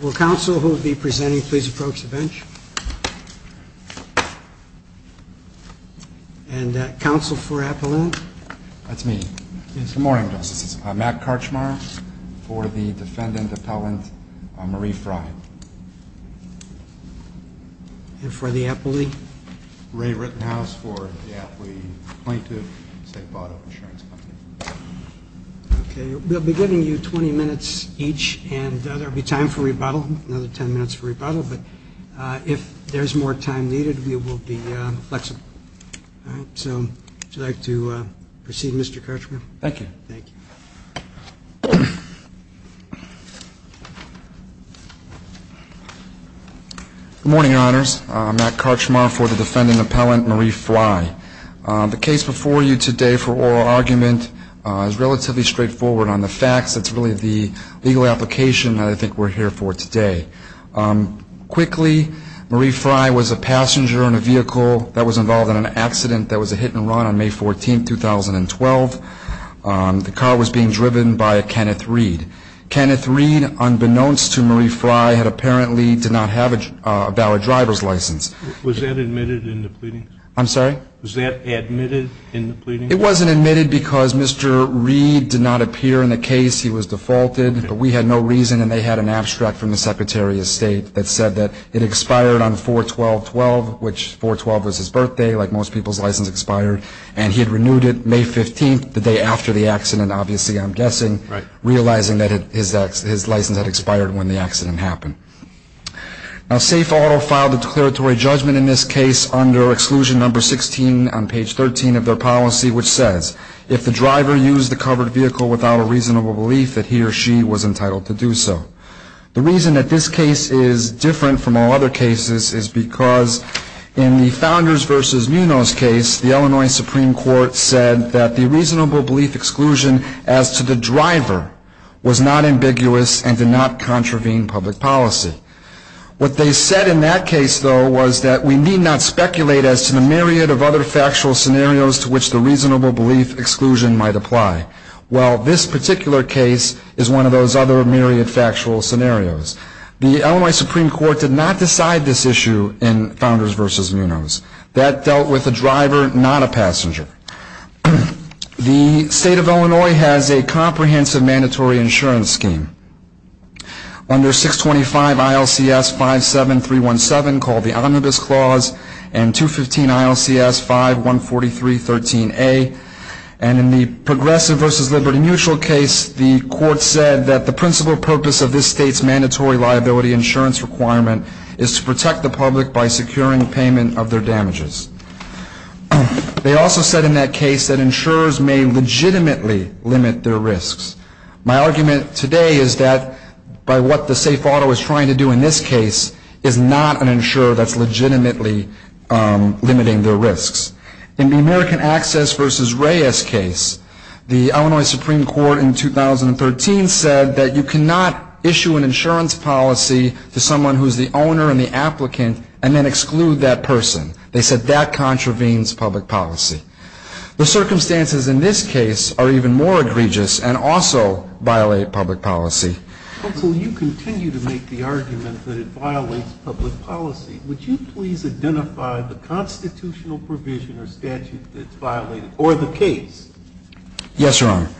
Will counsel who will be presenting please approach the bench. And counsel for appellant? That's me. Good morning, Justice. I'm Matt Karchmar for the defendant appellant Marie Frye. And for the appellee? Ray Rittenhouse for the appellee plaintiff, Safe Auto Insurance Company. Okay. We'll be giving you 20 minutes each and there will be time for rebuttal, another 10 minutes for rebuttal. But if there's more time needed, we will be flexible. So would you like to proceed, Mr. Karchmar? Thank you. Thank you. Good morning, Your Honors. I'm Matt Karchmar for the defendant appellant Marie Frye. The case before you today for oral argument is relatively straightforward on the facts. It's really the legal application that I think we're here for today. Quickly, Marie Frye was a passenger in a vehicle that was involved in an accident that was a hit and run on May 14, 2012. The car was being driven by a Kenneth Reed. Kenneth Reed, unbeknownst to Marie Frye, had apparently did not have a valid driver's license. Was that admitted in the pleading? I'm sorry? Was that admitted in the pleading? It wasn't admitted because Mr. Reed did not appear in the case. He was defaulted. But we had no reason, and they had an abstract from the Secretary of State that said that it expired on 4-12-12, which 4-12 was his birthday, like most people's license expired. And he had renewed it May 15, the day after the accident, obviously, I'm guessing, realizing that his license had expired when the accident happened. Now, Safe Auto filed a declaratory judgment in this case under exclusion number 16 on page 13 of their policy, which says, if the driver used the covered vehicle without a reasonable belief that he or she was entitled to do so. The reason that this case is different from all other cases is because in the Founders v. Munoz case, the Illinois Supreme Court said that the reasonable belief exclusion as to the driver was not ambiguous and did not contravene public policy. What they said in that case, though, was that we need not speculate as to the myriad of other factual scenarios to which the reasonable belief exclusion might apply. Well, this particular case is one of those other myriad factual scenarios. The Illinois Supreme Court did not decide this issue in Founders v. Munoz. That dealt with a driver, not a passenger. The State of Illinois has a comprehensive mandatory insurance scheme under 625 ILCS 57317, called the Omnibus Clause, and 215 ILCS 514313A. And in the Progressive v. Liberty Mutual case, the court said that the principal purpose of this state's mandatory liability insurance requirement is to protect the public by securing payment of their damages. They also said in that case that insurers may legitimately limit their risks. My argument today is that by what the safe auto is trying to do in this case is not an insurer that's legitimately limiting their risks. In the American Access v. Reyes case, the Illinois Supreme Court in 2013 said that you cannot issue an insurance policy to someone who is the owner and the applicant and then exclude that person. They said that contravenes public policy. The circumstances in this case are even more egregious and also violate public policy. Counsel, you continue to make the argument that it violates public policy. Would you please identify the constitutional provision or statute that's violated, or the case? Yes, Your Honor.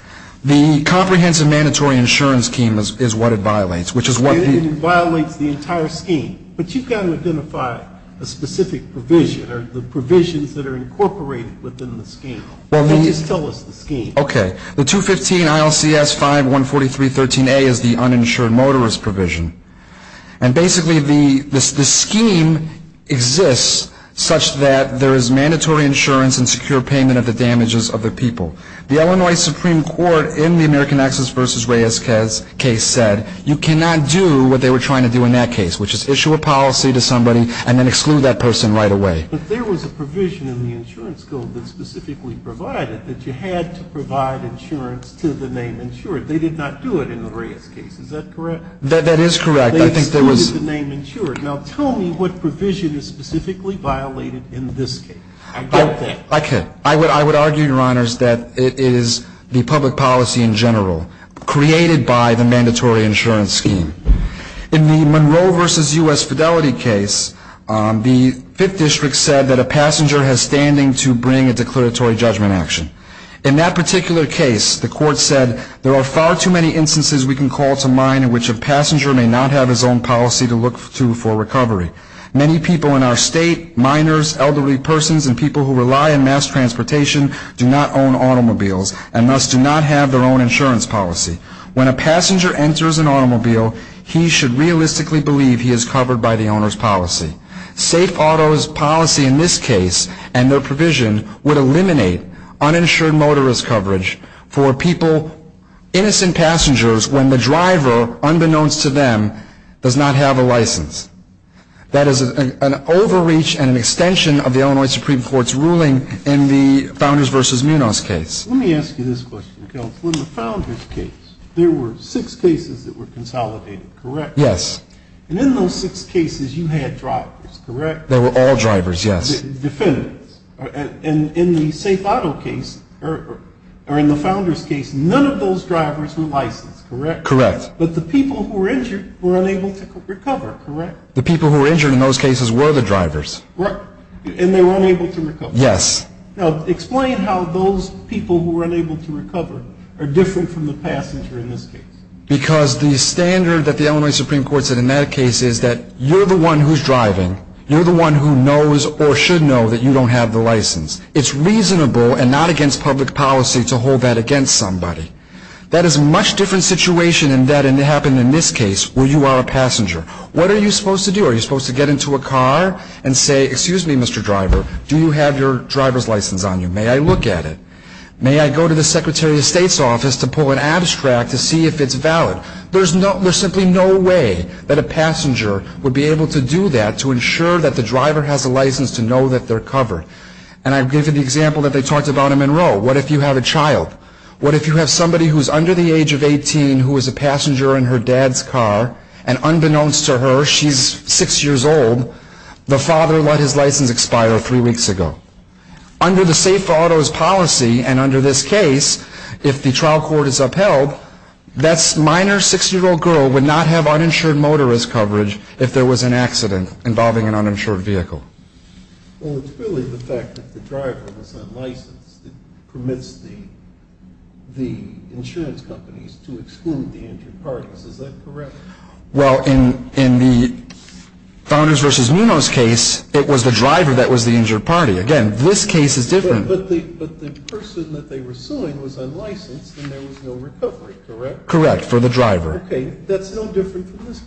The comprehensive mandatory insurance scheme is what it violates, which is what the And it violates the entire scheme. But you've got to identify a specific provision or the provisions that are incorporated within the scheme. Could you just tell us the scheme? Okay. The 215 ILCS 5143.13a is the uninsured motorist provision. And basically the scheme exists such that there is mandatory insurance and secure payment of the damages of the people. The Illinois Supreme Court in the American Access v. Reyes case said you cannot do what they were trying to do in that case, which is issue a policy to somebody and then exclude that person right away. But there was a provision in the insurance code that specifically provided that you had to provide insurance to the name insured. They did not do it in the Reyes case. Is that correct? That is correct. They excluded the name insured. Now, tell me what provision is specifically violated in this case. I doubt that. I could. I would argue, Your Honors, that it is the public policy in general created by the In the Monroe v. U.S. Fidelity case, the Fifth District said that a passenger has standing to bring a declaratory judgment action. In that particular case, the court said there are far too many instances we can call to mind in which a passenger may not have his own policy to look to for recovery. Many people in our state, minors, elderly persons, and people who rely on mass transportation do not own automobiles and thus do not have their own insurance policy. When a passenger enters an automobile, he should realistically believe he is covered by the owner's policy. Safe auto's policy in this case and their provision would eliminate uninsured motorist coverage for people, innocent passengers, when the driver, unbeknownst to them, does not have a license. That is an overreach and an extension of the Illinois Supreme Court's ruling in the Founders v. Munoz case. Let me ask you this question, Counselor. In the Founders case, there were six cases that were consolidated, correct? Yes. And in those six cases, you had drivers, correct? They were all drivers, yes. Defendants. And in the Safe Auto case, or in the Founders case, none of those drivers were licensed, correct? Correct. But the people who were injured were unable to recover, correct? The people who were injured in those cases were the drivers. And they were unable to recover. Yes. Now, explain how those people who were unable to recover are different from the passenger in this case. Because the standard that the Illinois Supreme Court said in that case is that you're the one who's driving, you're the one who knows or should know that you don't have the license. It's reasonable and not against public policy to hold that against somebody. That is a much different situation than that happened in this case where you are a passenger. What are you supposed to do? Are you supposed to get into a car and say, excuse me, Mr. Driver, do you have your driver's license on you? May I look at it? May I go to the Secretary of State's office to pull an abstract to see if it's valid? There's simply no way that a passenger would be able to do that to ensure that the driver has a license to know that they're covered. And I've given the example that they talked about in Monroe. What if you have a child? What if you have somebody who's under the age of 18 who is a passenger in her dad's car, and unbeknownst to her, she's six years old, the father let his license expire three weeks ago? Under the Safe Autos policy and under this case, if the trial court is upheld, that minor six-year-old girl would not have uninsured motorist coverage if there was an accident involving an uninsured vehicle. Well, it's really the fact that the driver was unlicensed that permits the insurance companies to exclude the injured parties. Is that correct? Well, in the Founders v. Nuno's case, it was the driver that was the injured party. Again, this case is different. But the person that they were suing was unlicensed and there was no recovery, correct? Correct, for the driver. Okay, that's no different from this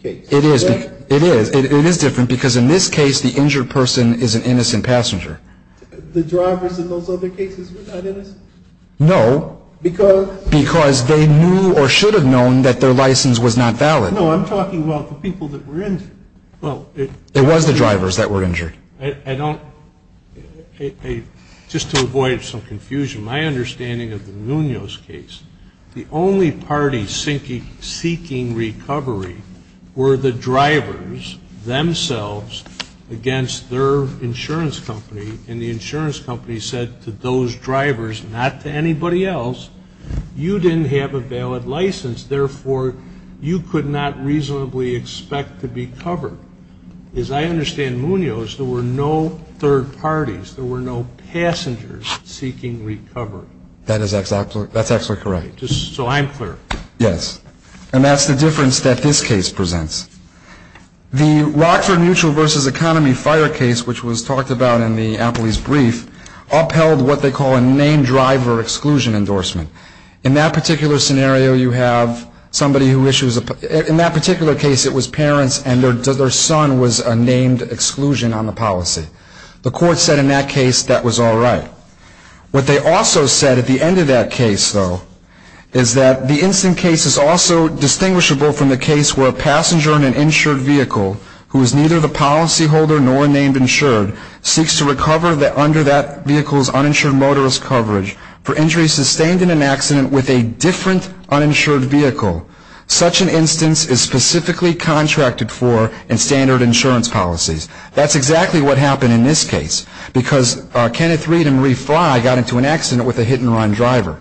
case. It is. It is. It is different because in this case, the injured person is an innocent passenger. The drivers in those other cases were not innocent? No. Because? Because they knew or should have known that their license was not valid. No, I'm talking about the people that were injured. Well, it was the drivers that were injured. I don't – just to avoid some confusion, my understanding of the Nuno's case, the only party seeking recovery were the drivers themselves against their insurance company, and the insurance company said to those drivers, not to anybody else, you didn't have a valid license. Therefore, you could not reasonably expect to be covered. As I understand Muno's, there were no third parties. There were no passengers seeking recovery. That is absolutely – that's absolutely correct. Just so I'm clear. Yes. And that's the difference that this case presents. The Rockford Mutual v. Economy Fire case, which was talked about in the Appley's brief, upheld what they call a named driver exclusion endorsement. In that particular scenario, you have somebody who issues – in that particular case, it was parents and their son was a named exclusion on the policy. The court said in that case that was all right. What they also said at the end of that case, though, is that the instant case is also distinguishable from the case where a passenger in an insured vehicle who is neither the policyholder nor named insured seeks to recover under that vehicle's uninsured motorist coverage for injuries sustained in an accident with a different uninsured vehicle. Such an instance is specifically contracted for in standard insurance policies. That's exactly what happened in this case because Kenneth Reed and Marie Fly got into an accident with a hit-and-run driver,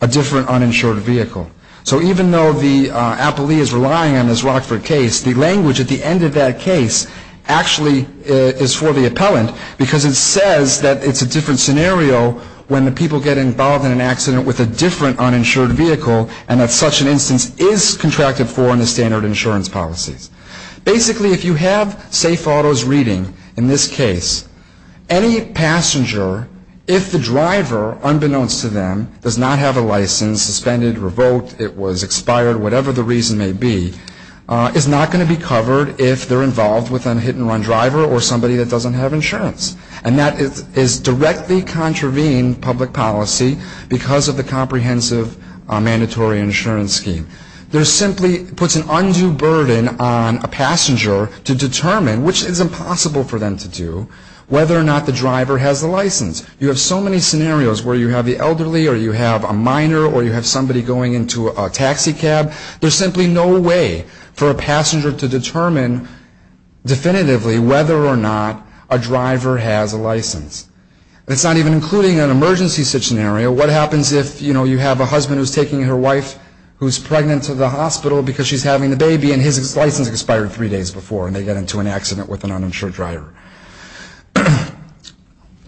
a different uninsured vehicle. So even though the Appley is relying on this Rockford case, the language at the end of that case actually is for the appellant because it says that it's a different scenario when the people get involved in an accident with a different uninsured vehicle and that such an instance is contracted for in the standard insurance policies. Basically, if you have safe autos reading in this case, any passenger, if the driver, unbeknownst to them, does not have a license, suspended, revoked, it was expired, whatever the reason may be, is not going to be covered if they're involved with a hit-and-run driver or somebody that doesn't have insurance. And that is directly contravening public policy because of the comprehensive mandatory insurance scheme. There simply puts an undue burden on a passenger to determine, which is impossible for them to do, whether or not the driver has a license. You have so many scenarios where you have the elderly or you have a minor or you have somebody going into a taxi cab. There's simply no way for a passenger to determine definitively whether or not a driver has a license. It's not even including an emergency scenario. What happens if, you know, you have a husband who's taking her wife who's pregnant to the hospital because she's having the baby and his license expired three days before and they get into an accident with an uninsured driver?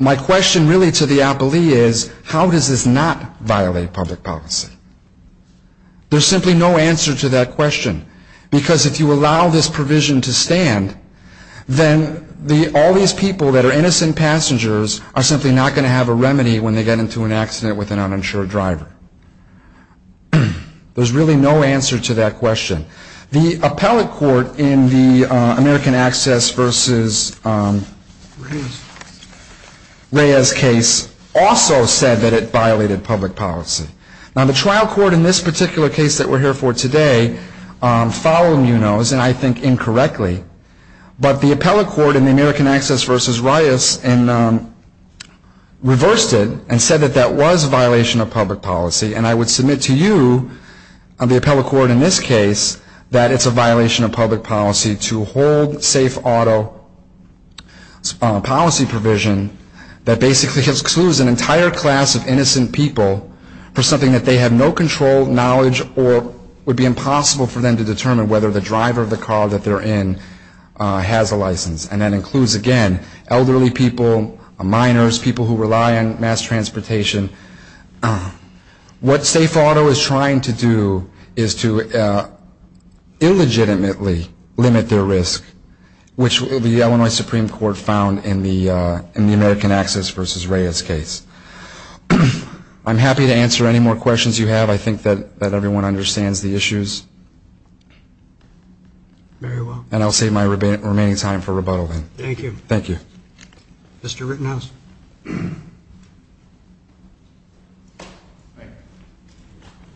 My question really to the appellee is, how does this not violate public policy? There's simply no answer to that question because if you allow this provision to stand, then all these people that are innocent passengers are simply not going to have a remedy when they get into an accident with an uninsured driver. There's really no answer to that question. The appellate court in the American Access v. Reyes case also said that it violated public policy. Now, the trial court in this particular case that we're here for today followed Munoz, and I think incorrectly, but the appellate court in the American Access v. Reyes reversed it and said that that was a violation of public policy, and I would submit to you, the appellate court in this case, that it's a violation of public policy to hold safe auto policy provision that basically excludes an entire class of innocent people for something that they have no control, knowledge, or would be impossible for them to determine whether the driver of the car that they're in has a license. And that includes, again, elderly people, minors, people who rely on mass transportation. What safe auto is trying to do is to illegitimately limit their risk, which the Illinois Supreme Court found in the American Access v. Reyes case. I'm happy to answer any more questions you have. I think that everyone understands the issues. Very well. And I'll save my remaining time for rebuttal then. Thank you. Thank you. Mr. Rittenhouse.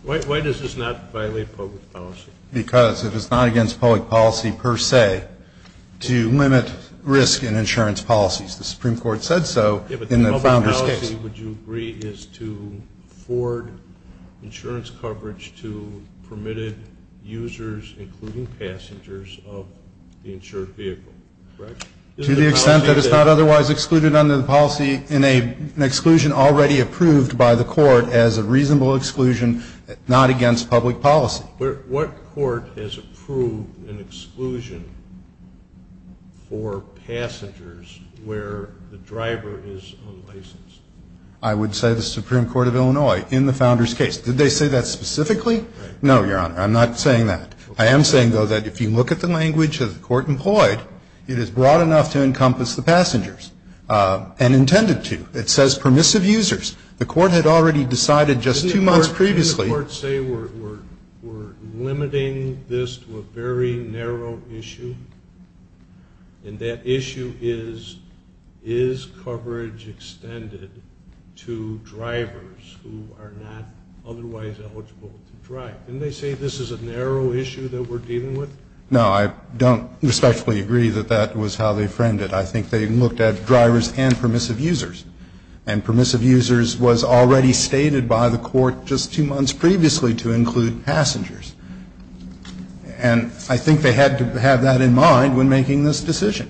Why does this not violate public policy? Because it is not against public policy per se to limit risk in insurance policies. The Supreme Court said so in the Bounders case. But public policy, would you agree, is to afford insurance coverage to permitted users, including passengers, of the insured vehicle, correct? To the extent that it's not otherwise excluded under the policy in an exclusion already approved by the court as a reasonable exclusion, not against public policy. What court has approved an exclusion for passengers where the driver is unlicensed? I would say the Supreme Court of Illinois in the Bounders case. Did they say that specifically? No, Your Honor. I'm not saying that. I am saying, though, that if you look at the language that the court employed, it is broad enough to encompass the passengers and intended to. It says permissive users. The court had already decided just two months previously. Did the court say we're limiting this to a very narrow issue? And that issue is, is coverage extended to drivers who are not otherwise eligible to drive? Didn't they say this is a narrow issue that we're dealing with? No, I don't respectfully agree that that was how they framed it. I think they looked at drivers and permissive users. And permissive users was already stated by the court just two months previously to include passengers. And I think they had to have that in mind when making this decision.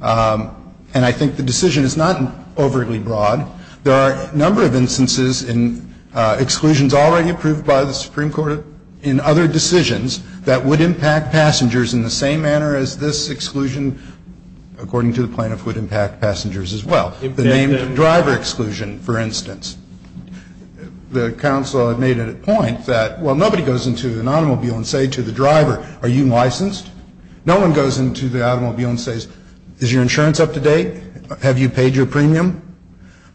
And I think the decision is not overly broad. There are a number of instances in exclusions already approved by the Supreme Court in other decisions that would impact passengers in the same manner as this exclusion, according to the plaintiff, would impact passengers as well. The name driver exclusion, for instance, the counsel had made it a point that, well, nobody goes into an automobile and say to the driver, are you licensed? No one goes into the automobile and says, is your insurance up to date? Have you paid your premium?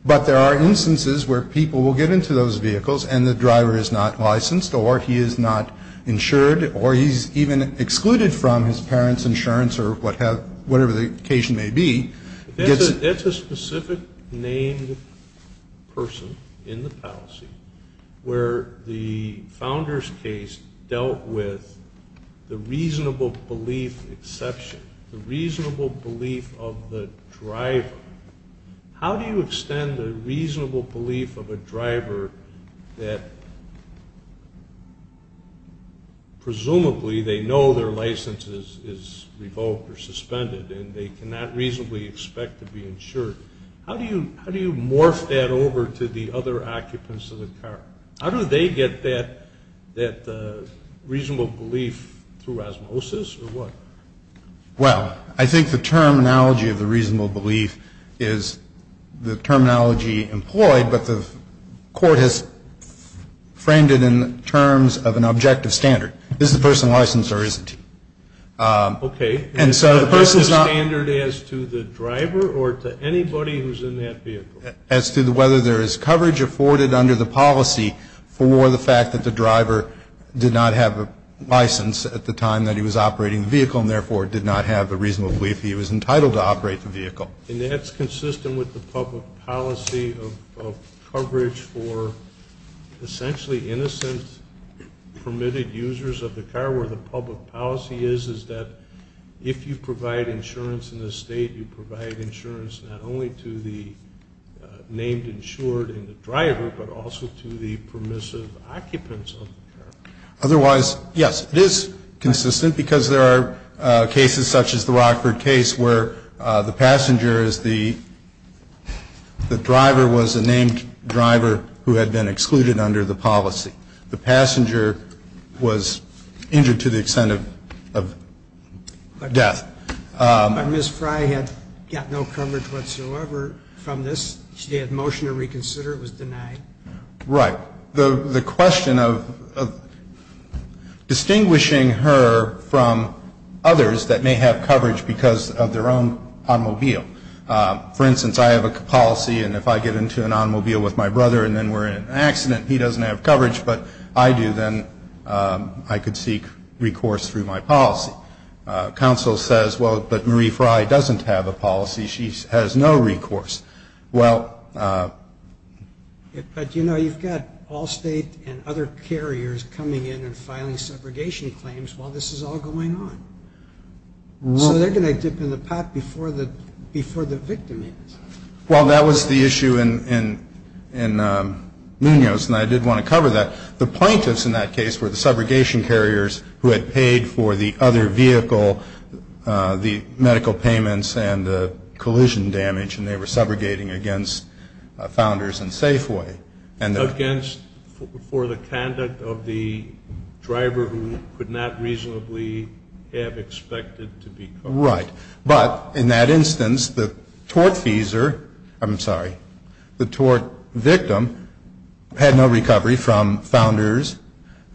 But there are instances where people will get into those vehicles and the driver is not licensed or he is not insured or he's even excluded from his parents' insurance or whatever the occasion may be. That's a specific named person in the policy where the founder's case dealt with the reasonable belief exception, the reasonable belief of the driver. How do you extend a reasonable belief of a driver that presumably they know their How do you morph that over to the other occupants of the car? How do they get that reasonable belief through osmosis or what? Well, I think the terminology of the reasonable belief is the terminology employed, but the court has framed it in terms of an objective standard. Is the person licensed or isn't he? Okay. And so the person is not. Is the standard as to the driver or to anybody who's in that vehicle? As to whether there is coverage afforded under the policy for the fact that the driver did not have a license at the time that he was operating the vehicle and, therefore, did not have a reasonable belief he was entitled to operate the vehicle. And that's consistent with the public policy of coverage for essentially innocent permitted users of the car where the public policy is, is that if you provide insurance in the state, you provide insurance not only to the named insured and the driver, but also to the permissive occupants of the car. Otherwise, yes, it is consistent because there are cases such as the Rockford case where the passenger is the driver was a named driver who had been excluded under the policy. The passenger was injured to the extent of death. But Ms. Fry had got no coverage whatsoever from this. She had motion to reconsider. It was denied. Right. The question of distinguishing her from others that may have coverage because of their own automobile. For instance, I have a policy, and if I get into an automobile with my brother and then we're in an accident and he doesn't have coverage, but I do, then I could seek recourse through my policy. Counsel says, well, but Marie Fry doesn't have a policy. She has no recourse. Well. But, you know, you've got Allstate and other carriers coming in and filing segregation claims while this is all going on. So they're going to dip in the pot before the victim is. Well, that was the issue in Munoz, and I did want to cover that. The plaintiffs in that case were the segregation carriers who had paid for the other vehicle, the medical payments and the collision damage, and they were segregating against Founders and Safeway. Against, for the conduct of the driver who could not reasonably have expected to be covered. Right. But in that instance, the tort fees are, I'm sorry, the tort victim had no recovery from Founders.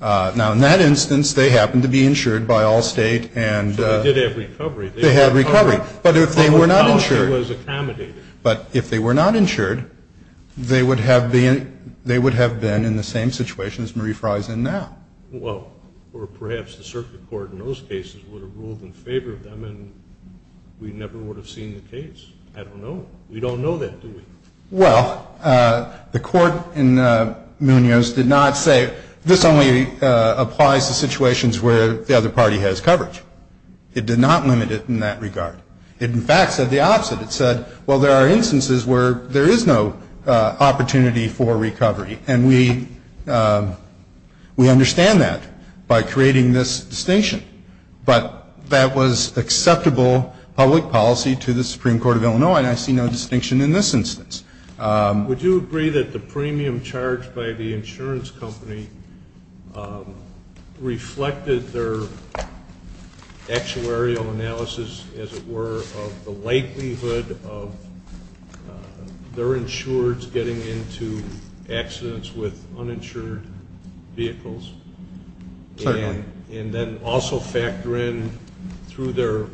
Now, in that instance, they happened to be insured by Allstate and. They did have recovery. They had recovery. But if they were not insured. The policy was accommodated. But if they were not insured, they would have been in the same situation as Marie Fry is in now. Well, or perhaps the circuit court in those cases would have ruled in favor of them, and we never would have seen the case. I don't know. We don't know that, do we? Well, the court in Munoz did not say this only applies to situations where the other party has coverage. It did not limit it in that regard. It, in fact, said the opposite. It said, well, there are instances where there is no opportunity for recovery, and we understand that by creating this distinction. But that was acceptable public policy to the Supreme Court of Illinois, and I see no distinction in this instance. Would you agree that the premium charged by the insurance company reflected their actuarial analysis, as it were, of the likelihood of their insureds getting into accidents with uninsured vehicles? Certainly. And then also factor in through their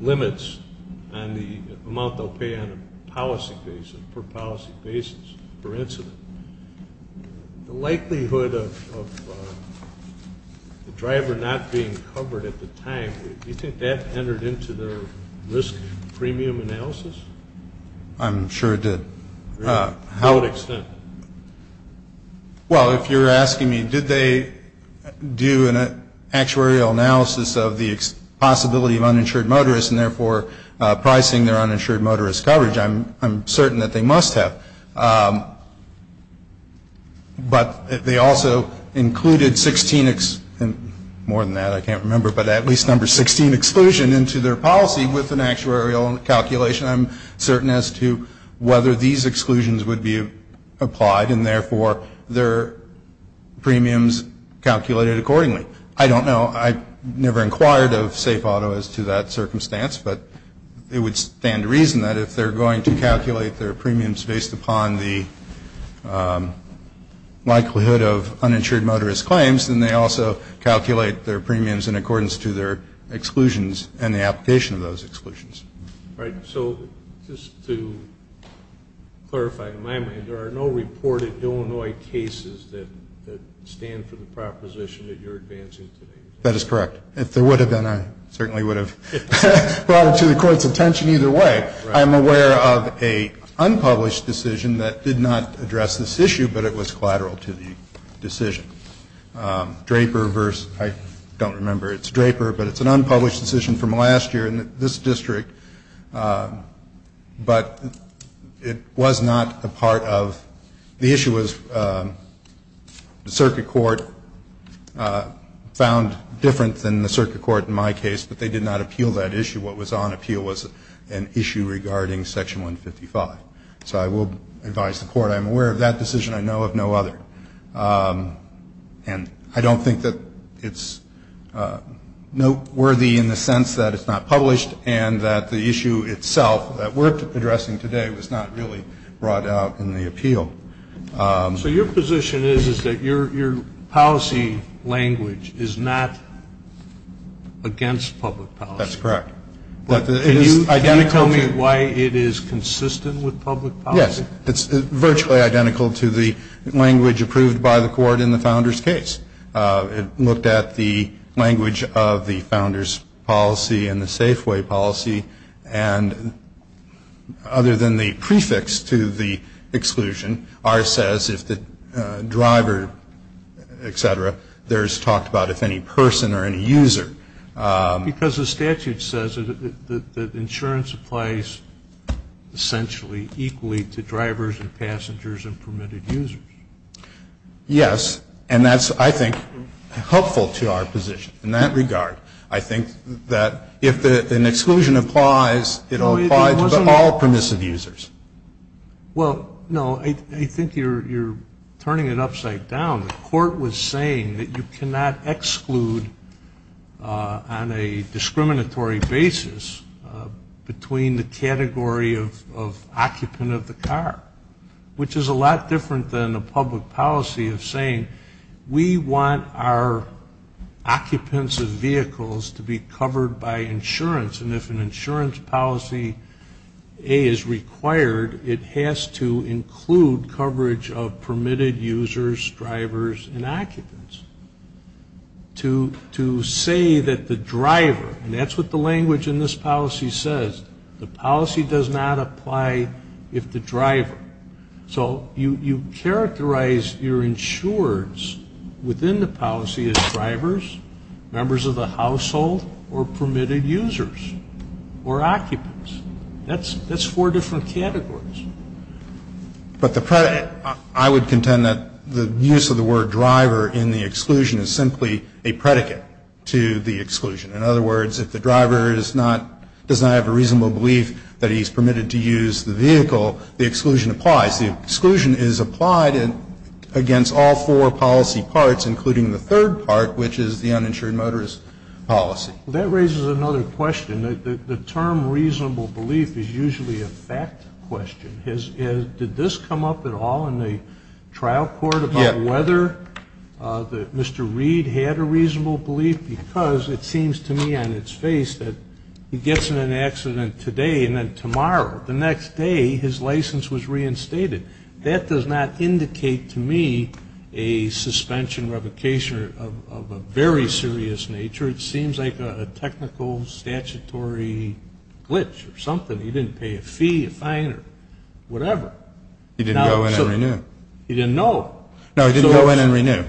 limits on the amount they'll pay on a policy basis, per policy basis, per incident. The likelihood of the driver not being covered at the time, do you think that entered into the risk premium analysis? I'm sure it did. To what extent? Well, if you're asking me, did they do an actuarial analysis of the possibility of uninsured motorists and, therefore, pricing their uninsured motorist coverage, I'm certain that they must have. But they also included 16, more than that, I can't remember, but at least number 16 exclusion into their policy with an actuarial calculation. I'm certain as to whether these exclusions would be applied, and, therefore, their premiums calculated accordingly. I don't know. I never inquired of Safe Auto as to that circumstance, but it would stand to reason that if they're going to calculate their premiums based upon the likelihood of uninsured motorist claims, then they also calculate their premiums in accordance to their exclusions and the application of those exclusions. All right. So just to clarify, in my mind, there are no reported Illinois cases that stand for the proposition that you're advancing today. That is correct. If there would have been, I certainly would have brought it to the court's attention either way. I'm aware of a unpublished decision that did not address this issue, but it was collateral to the decision. Draper versus ‑‑ I don't remember. It's Draper, but it's an unpublished decision from last year, and this district, but it was not a part of ‑‑ the issue was the circuit court found different than the circuit court in my case, but they did not appeal that issue. What was on appeal was an issue regarding Section 155. So I will advise the court I'm aware of that decision. I know of no other. And I don't think that it's noteworthy in the sense that it's not published and that the issue itself that we're addressing today was not really brought out in the appeal. So your position is that your policy language is not against public policy? That's correct. Can you tell me why it is consistent with public policy? Yes. It's virtually identical to the language approved by the court in the founder's case. It looked at the language of the founder's policy and the Safeway policy, and other than the prefix to the exclusion, ours says if the driver, et cetera, there is talk about if any person or any user. Because the statute says that insurance applies essentially equally to drivers and passengers and permitted users. Yes. And that's, I think, helpful to our position in that regard. I think that if an exclusion applies, it will apply to all permissive users. Well, no, I think you're turning it upside down. The court was saying that you cannot exclude on a discriminatory basis between the category of occupant of the car, which is a lot different than a public policy of saying we want our occupants of vehicles to be covered by insurance. And if an insurance policy, A, is required, it has to include coverage of permitted users, drivers, and occupants. To say that the driver, and that's what the language in this policy says, the policy does not apply if the driver. So you characterize your insurers within the policy as drivers, members of the household, or permitted users or occupants. That's four different categories. But I would contend that the use of the word driver in the exclusion is simply a predicate to the exclusion. In other words, if the driver does not have a reasonable belief that he's permitted to use the vehicle, the exclusion applies. The exclusion is applied against all four policy parts, including the third part, which is the uninsured motorist policy. That raises another question. The term reasonable belief is usually a fact question. Did this come up at all in the trial court about whether Mr. Reed had a reasonable belief? Because it seems to me on its face that he gets in an accident today and then tomorrow, the next day his license was reinstated. That does not indicate to me a suspension, revocation of a very serious nature. It seems like a technical statutory glitch or something. He didn't pay a fee, a fine, or whatever. He didn't go in and renew. He didn't know. No, he didn't go in and renew.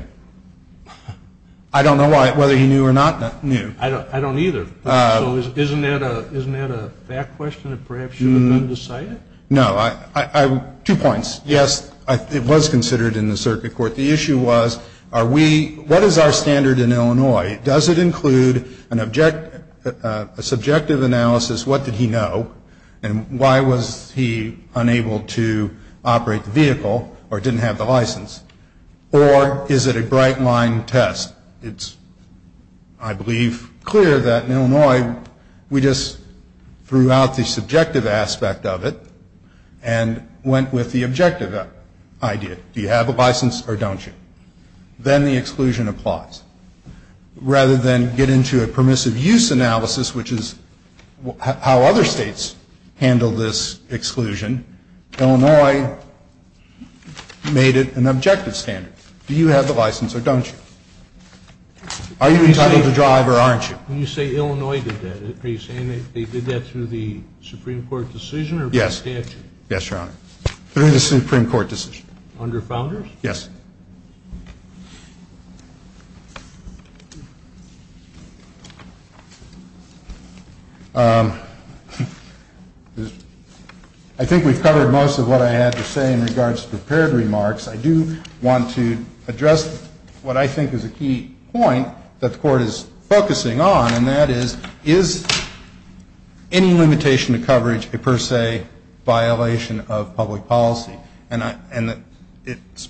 I don't know whether he knew or not knew. I don't either. So isn't that a fact question that perhaps should have been decided? No. Two points. Yes, it was considered in the circuit court. The issue was what is our standard in Illinois? Does it include a subjective analysis? What did he know? And why was he unable to operate the vehicle or didn't have the license? Or is it a bright-line test? It's, I believe, clear that in Illinois we just threw out the subjective aspect of it and went with the objective idea. Do you have a license or don't you? Then the exclusion applies. Rather than get into a permissive use analysis, which is how other states handle this exclusion, Illinois made it an objective standard. Do you have the license or don't you? Are you entitled to drive or aren't you? When you say Illinois did that, are you saying they did that through the Supreme Court decision or by statute? Yes, Your Honor. Through the Supreme Court decision. Under founders? Yes. I think we've covered most of what I had to say in regards to prepared remarks. I do want to address what I think is a key point that the Court is focusing on, and that is, is any limitation of coverage a per se violation of public policy? And it's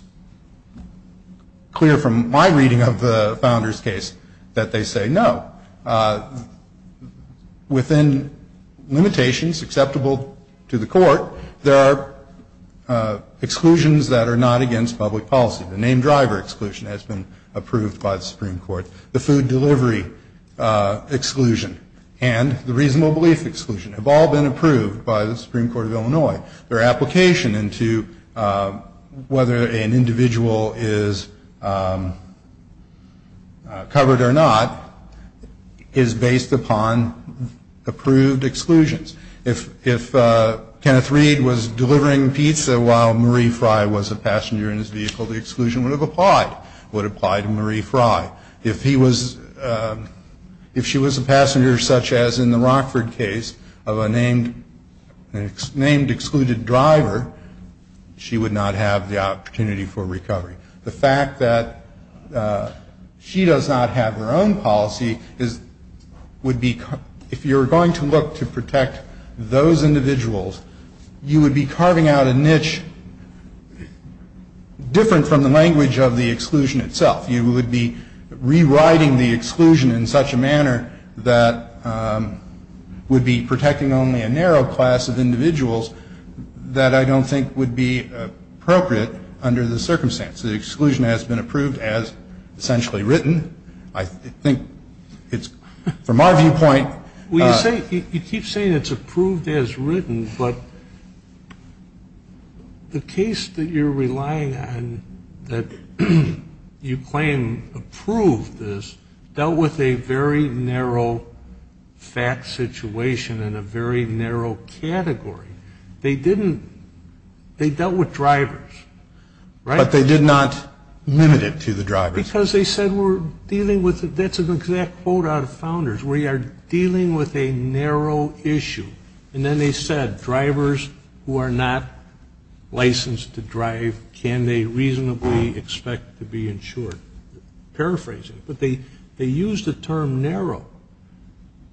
clear from my reading of the founders' case that they say no. Within limitations acceptable to the Court, there are exclusions that are not against public policy. The name driver exclusion has been approved by the Supreme Court. The food delivery exclusion and the reasonable belief exclusion have all been approved by the Supreme Court of Illinois. Their application into whether an individual is covered or not is based upon approved exclusions. If Kenneth Reed was delivering pizza while Marie Fry was a passenger in his vehicle, the exclusion would have applied, would apply to Marie Fry. If he was, if she was a passenger such as in the Rockford case of a named, named excluded driver, she would not have the opportunity for recovery. The fact that she does not have her own policy is, would be, if you're going to look to protect those individuals, you would be carving out a niche different from the language of the exclusion itself. You would be rewriting the exclusion in such a manner that would be protecting only a narrow class of individuals that I don't think would be appropriate under the circumstance. The exclusion has been approved as essentially written. I think it's from our viewpoint. Well, you say, you keep saying it's approved as written, but the case that you're relying on that you claim approved this dealt with a very narrow fact situation and a very narrow category. They didn't, they dealt with drivers, right? But they did not limit it to the drivers. Because they said we're dealing with, that's an exact quote out of Founders, we are dealing with a narrow issue. And then they said drivers who are not licensed to drive, can they reasonably expect to be insured? Paraphrasing, but they used the term narrow.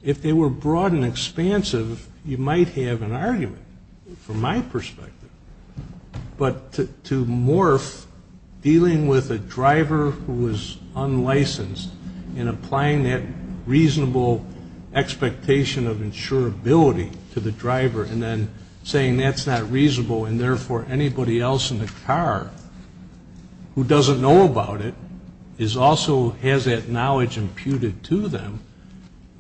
If they were broad and expansive, you might have an argument from my perspective. But to morph dealing with a driver who is unlicensed and applying that reasonable expectation of insurability to the driver and then saying that's not reasonable and therefore anybody else in the car who doesn't know about it also has that knowledge imputed to them,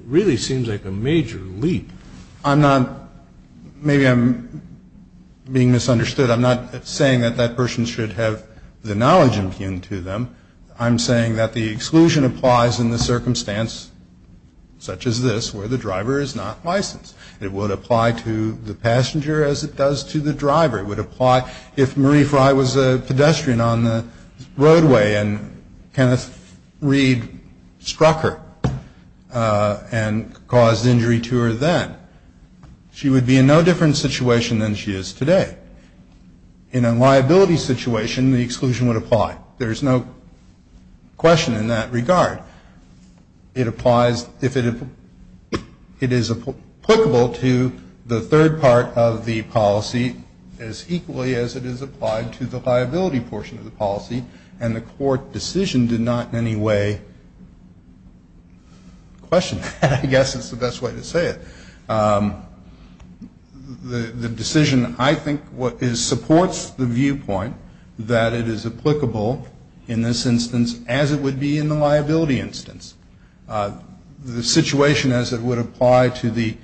really seems like a major leap. I'm not, maybe I'm being misunderstood. I'm not saying that that person should have the knowledge impugned to them. I'm saying that the exclusion applies in the circumstance such as this where the driver is not licensed. It would apply to the passenger as it does to the driver. It would apply if Marie Fry was a pedestrian on the roadway and Kenneth Reed struck her and caused injury to her then. She would be in no different situation than she is today. In a liability situation, the exclusion would apply. There's no question in that regard. It applies if it is applicable to the third part of the policy as equally as it is applied to the liability portion of the policy and the court decision did not in any way question that. I guess that's the best way to say it. The decision I think supports the viewpoint that it is applicable in this instance as it would be in the liability instance. The situation as it would apply to the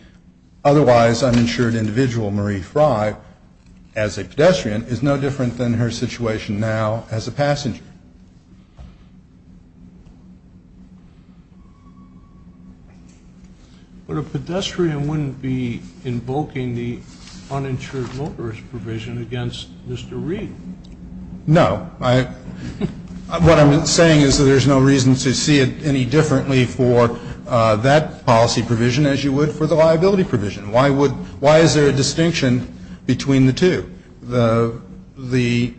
otherwise uninsured individual, Marie Fry, as a pedestrian, is no different than her situation now as a passenger. But a pedestrian wouldn't be invoking the uninsured motorist provision against Mr. Reed. No. What I'm saying is that there's no reason to see it any differently for that policy provision as you would for the liability provision. Why is there a distinction between the two? The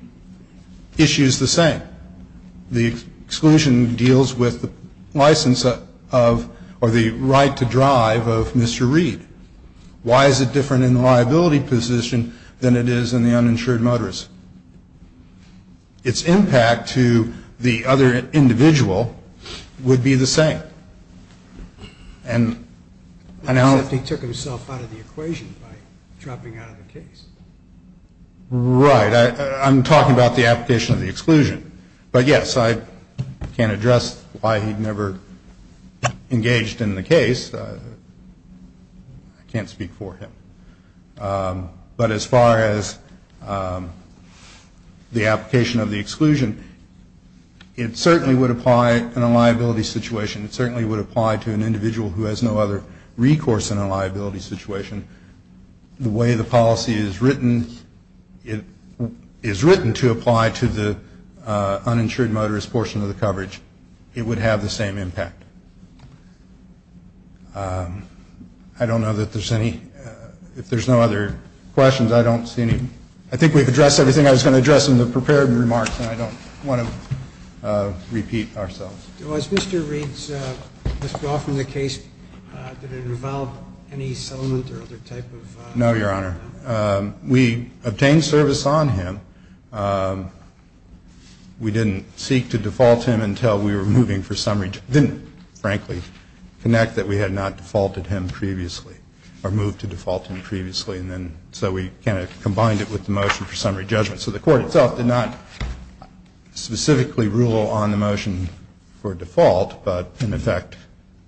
issue is the same. The exclusion deals with the license of or the right to drive of Mr. Reed. Why is it different in the liability position than it is in the uninsured motorist? Its impact to the other individual would be the same. Except he took himself out of the equation by dropping out of the case. Right. I'm talking about the application of the exclusion. But, yes, I can't address why he never engaged in the case. I can't speak for him. But as far as the application of the exclusion, it certainly would apply in a liability situation. It certainly would apply to an individual who has no other recourse in a liability situation. The way the policy is written, it is written to apply to the uninsured motorist portion of the coverage. It would have the same impact. I don't know that there's any, if there's no other questions, I don't see any. I think we've addressed everything I was going to address in the prepared remarks, and I don't want to repeat ourselves. As Mr. Reeds must be aware from the case, did it involve any settlement or other type of? No, Your Honor. We obtained service on him. We didn't seek to default him until we were moving for summary judgment. Didn't, frankly, connect that we had not defaulted him previously or moved to default him previously, and then so we kind of combined it with the motion for summary judgment. So the court itself did not specifically rule on the motion for default, but, in effect,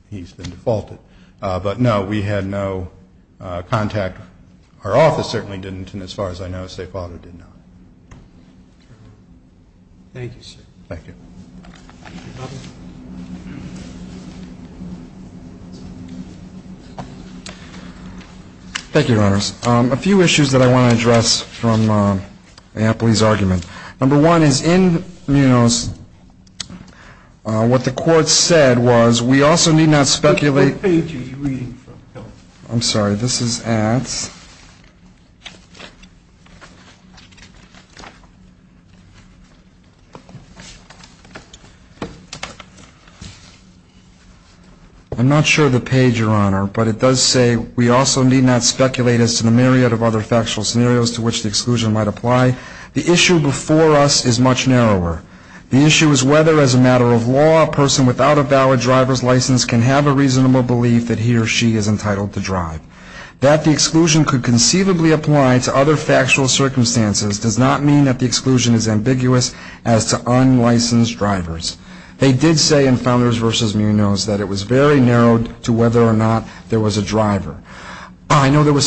he's been defaulted. But, no, we had no contact. Our office certainly didn't, and as far as I know, Safe Auto did not. Thank you, sir. Thank you. Thank you, Your Honors. A few issues that I want to address from Ampli's argument. Number one is in Munoz, what the court said was we also need not speculate. Which page are you reading from? This is ads. I'm not sure of the page, Your Honor, but it does say, we also need not speculate as to the myriad of other factual scenarios to which the exclusion might apply. The issue before us is much narrower. The issue is whether, as a matter of law, a person without a valid driver's license can have a reasonable belief that he or she is entitled to drive. I know there was some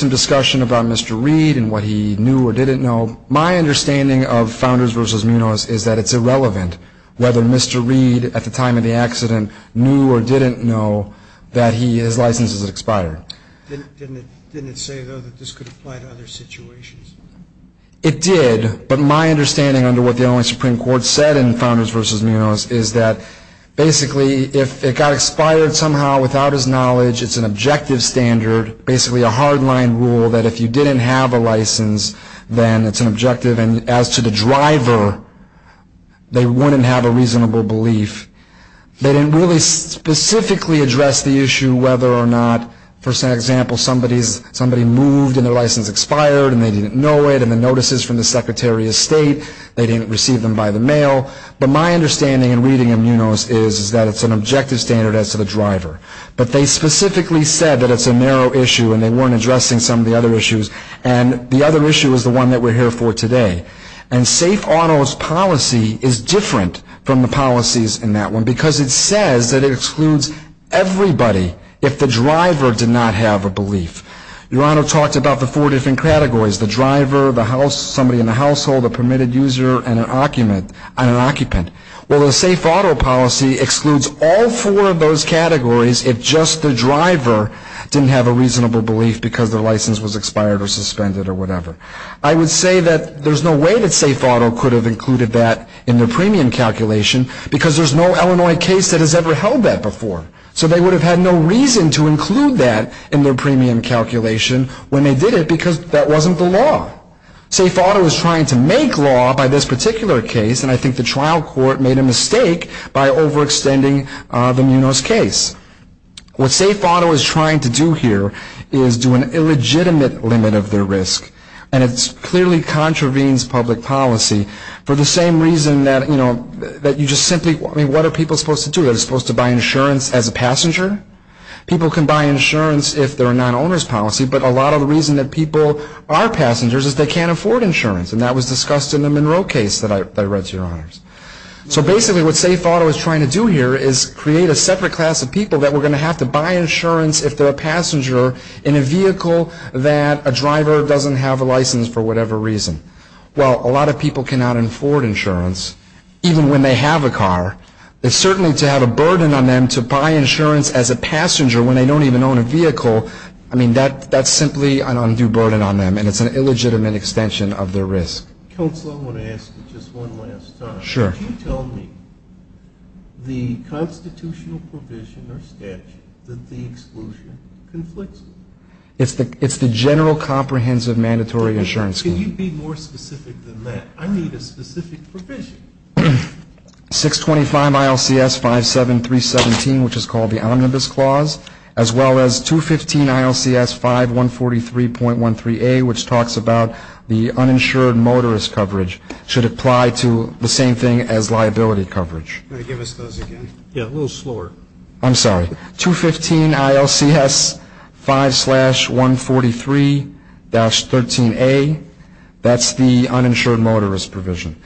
discussion about Mr. Reed and what he knew or didn't know. My understanding of Founders v. Munoz is that it's irrelevant whether Mr. Reed, at the time of the accident, knew or didn't know that his license had expired. Didn't it say, though, that this could apply to other factual circumstances? It did, but my understanding under what the only Supreme Court said in Founders v. Munoz is that basically if it got expired somehow without his knowledge, it's an objective standard, basically a hard-line rule that if you didn't have a license, then it's an objective. And as to the driver, they wouldn't have a reasonable belief. They didn't really specifically address the issue whether or not, for example, somebody moved and their license expired, and they didn't know it, and the notices from the Secretary of State, they didn't receive them by the mail. But my understanding in reading Munoz is that it's an objective standard as to the driver. But they specifically said that it's a narrow issue, and they weren't addressing some of the other issues. And the other issue is the one that we're here for today. And Safe Auto's policy is different from the policies in that one, because it says that it excludes everybody if the driver did not have a belief. Your Honor talked about the four different categories, the driver, the house, somebody in the household, a permitted user, and an occupant. Well, the Safe Auto policy excludes all four of those categories if just the driver didn't have a reasonable belief because their license was expired or suspended or whatever. I would say that there's no way that Safe Auto could have included that in their premium calculation, because there's no Illinois case that has ever held that before. So they would have had no reason to include that in their premium calculation when they did it, because that wasn't the law. Safe Auto is trying to make law by this particular case, and I think the trial court made a mistake by overextending the Munoz case. What Safe Auto is trying to do here is do an illegitimate limit of their risk, and it clearly contravenes public policy for the same reason that you just simply, I mean, what are people supposed to do? Are they supposed to buy insurance as a passenger? People can buy insurance if they're a non-owner's policy, but a lot of the reason that people are passengers is they can't afford insurance, and that was discussed in the Monroe case that I read, Your Honors. So basically what Safe Auto is trying to do here is create a separate class of people that were going to have to buy insurance if they're a passenger in a vehicle that a driver doesn't have a license for whatever reason. Well, a lot of people cannot afford insurance even when they have a car. It's certainly to have a burden on them to buy insurance as a passenger when they don't even own a vehicle, I mean, that's simply an undue burden on them, and it's an illegitimate extension of their risk. Counsel, I want to ask you just one last time. Sure. Could you tell me the constitutional provision or statute that the exclusion conflicts with? It's the General Comprehensive Mandatory Insurance Clause. Could you be more specific than that? I need a specific provision. 625 ILCS 57317, which is called the Omnibus Clause, as well as 215 ILCS 5143.13a, which talks about the uninsured motorist coverage, should apply to the same thing as liability coverage. Can you give us those again? Yeah, a little slower. I'm sorry. 215 ILCS 5-143-13a, that's the uninsured motorist provision.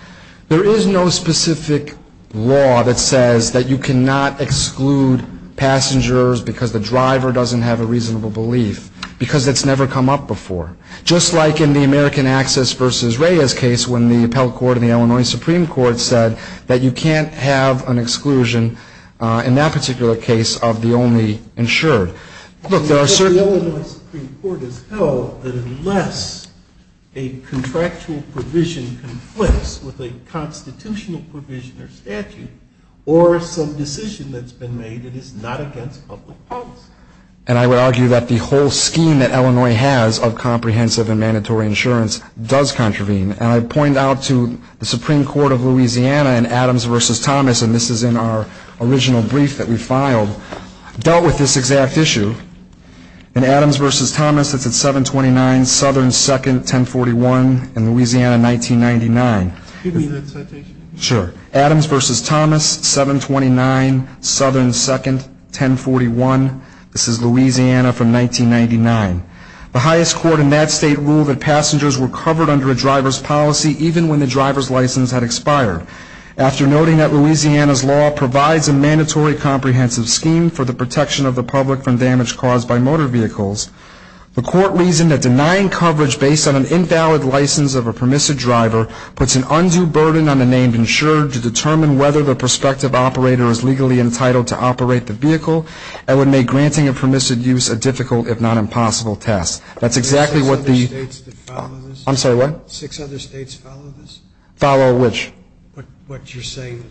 There is no specific law that says that you cannot exclude passengers because the driver doesn't have a reasonable belief, because that's never come up before. Just like in the American Access v. Reyes case when the appellate court in the Illinois Supreme Court said that you can't have an exclusion in that particular case of the only insured. The Illinois Supreme Court has held that unless a contractual provision conflicts with a constitutional provision or statute or some decision that's been made, it is not against public policy. And I would argue that the whole scheme that Illinois has of comprehensive and mandatory insurance does contravene. And I point out to the Supreme Court of Louisiana in Adams v. Thomas, and this is in our original brief that we filed, dealt with this exact issue. In Adams v. Thomas, it's at 729 Southern 2nd, 1041, in Louisiana, 1999. Give me that citation. Sure. Adams v. Thomas, 729 Southern 2nd, 1041. This is Louisiana from 1999. The highest court in that state ruled that passengers were covered under a driver's policy even when the driver's license had expired. After noting that Louisiana's law provides a mandatory comprehensive scheme for the protection of the public from damage caused by motor vehicles, the court reasoned that denying coverage based on an invalid license of a permissive driver puts an undue burden on the name insured to determine whether the prospective operator is legally entitled to operate the vehicle and would make granting a permissive use a difficult, if not impossible, test. That's exactly what the... Are there six other states that follow this? I'm sorry, what? Six other states follow this? Follow which? What you're saying.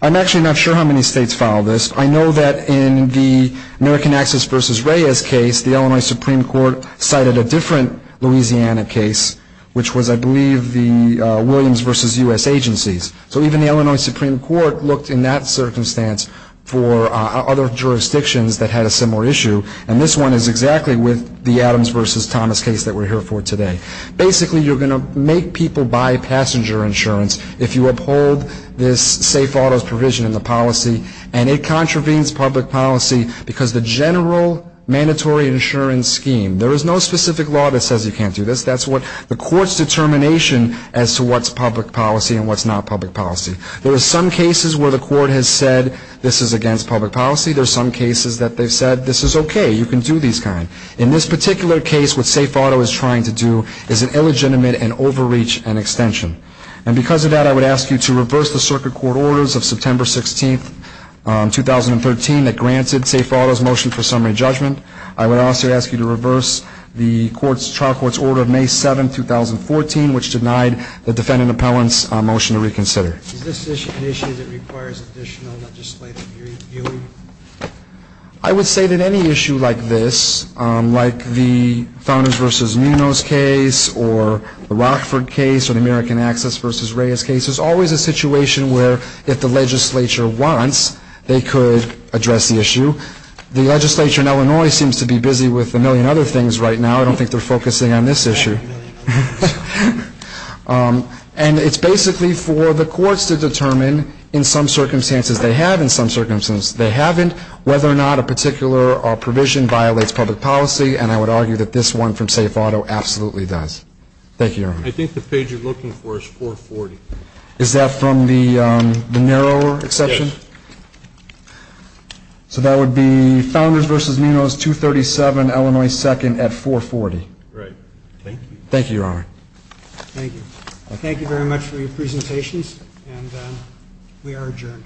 I'm actually not sure how many states follow this. I know that in the American Access v. Reyes case, the Illinois Supreme Court cited a different Louisiana case, which was, I believe, the Williams v. U.S. agencies. So even the Illinois Supreme Court looked in that circumstance for other jurisdictions that had a similar issue, and this one is exactly with the Adams v. Thomas case that we're here for today. Basically, you're going to make people buy passenger insurance if you uphold this safe autos provision in the policy, and it contravenes public policy because the general mandatory insurance scheme, there is no specific law that says you can't do this. That's the court's determination as to what's public policy and what's not public policy. There are some cases where the court has said this is against public policy. There are some cases that they've said this is okay, you can do these kinds. In this particular case, what Safe Auto is trying to do is an illegitimate and overreach and extension. And because of that, I would ask you to reverse the circuit court orders of September 16, 2013, that granted Safe Auto's motion for summary judgment. I would also ask you to reverse the trial court's order of May 7, 2014, which denied the defendant appellant's motion to reconsider. Is this an issue that requires additional legislative viewing? I would say that any issue like this, like the Founders v. Munoz case or the Rockford case or the American Access v. Reyes case, is always a situation where if the legislature wants, they could address the issue. The legislature in Illinois seems to be busy with a million other things right now. I don't think they're focusing on this issue. And it's basically for the courts to determine in some circumstances they have, in some circumstances they haven't, whether or not a particular provision violates public policy. And I would argue that this one from Safe Auto absolutely does. Thank you, Your Honor. I think the page you're looking for is 440. Is that from the narrower exception? Yes. So that would be Founders v. Munoz, 237 Illinois 2nd at 440. Right. Thank you. Thank you, Your Honor. Thank you. Thank you very much for your presentations, and we are adjourned.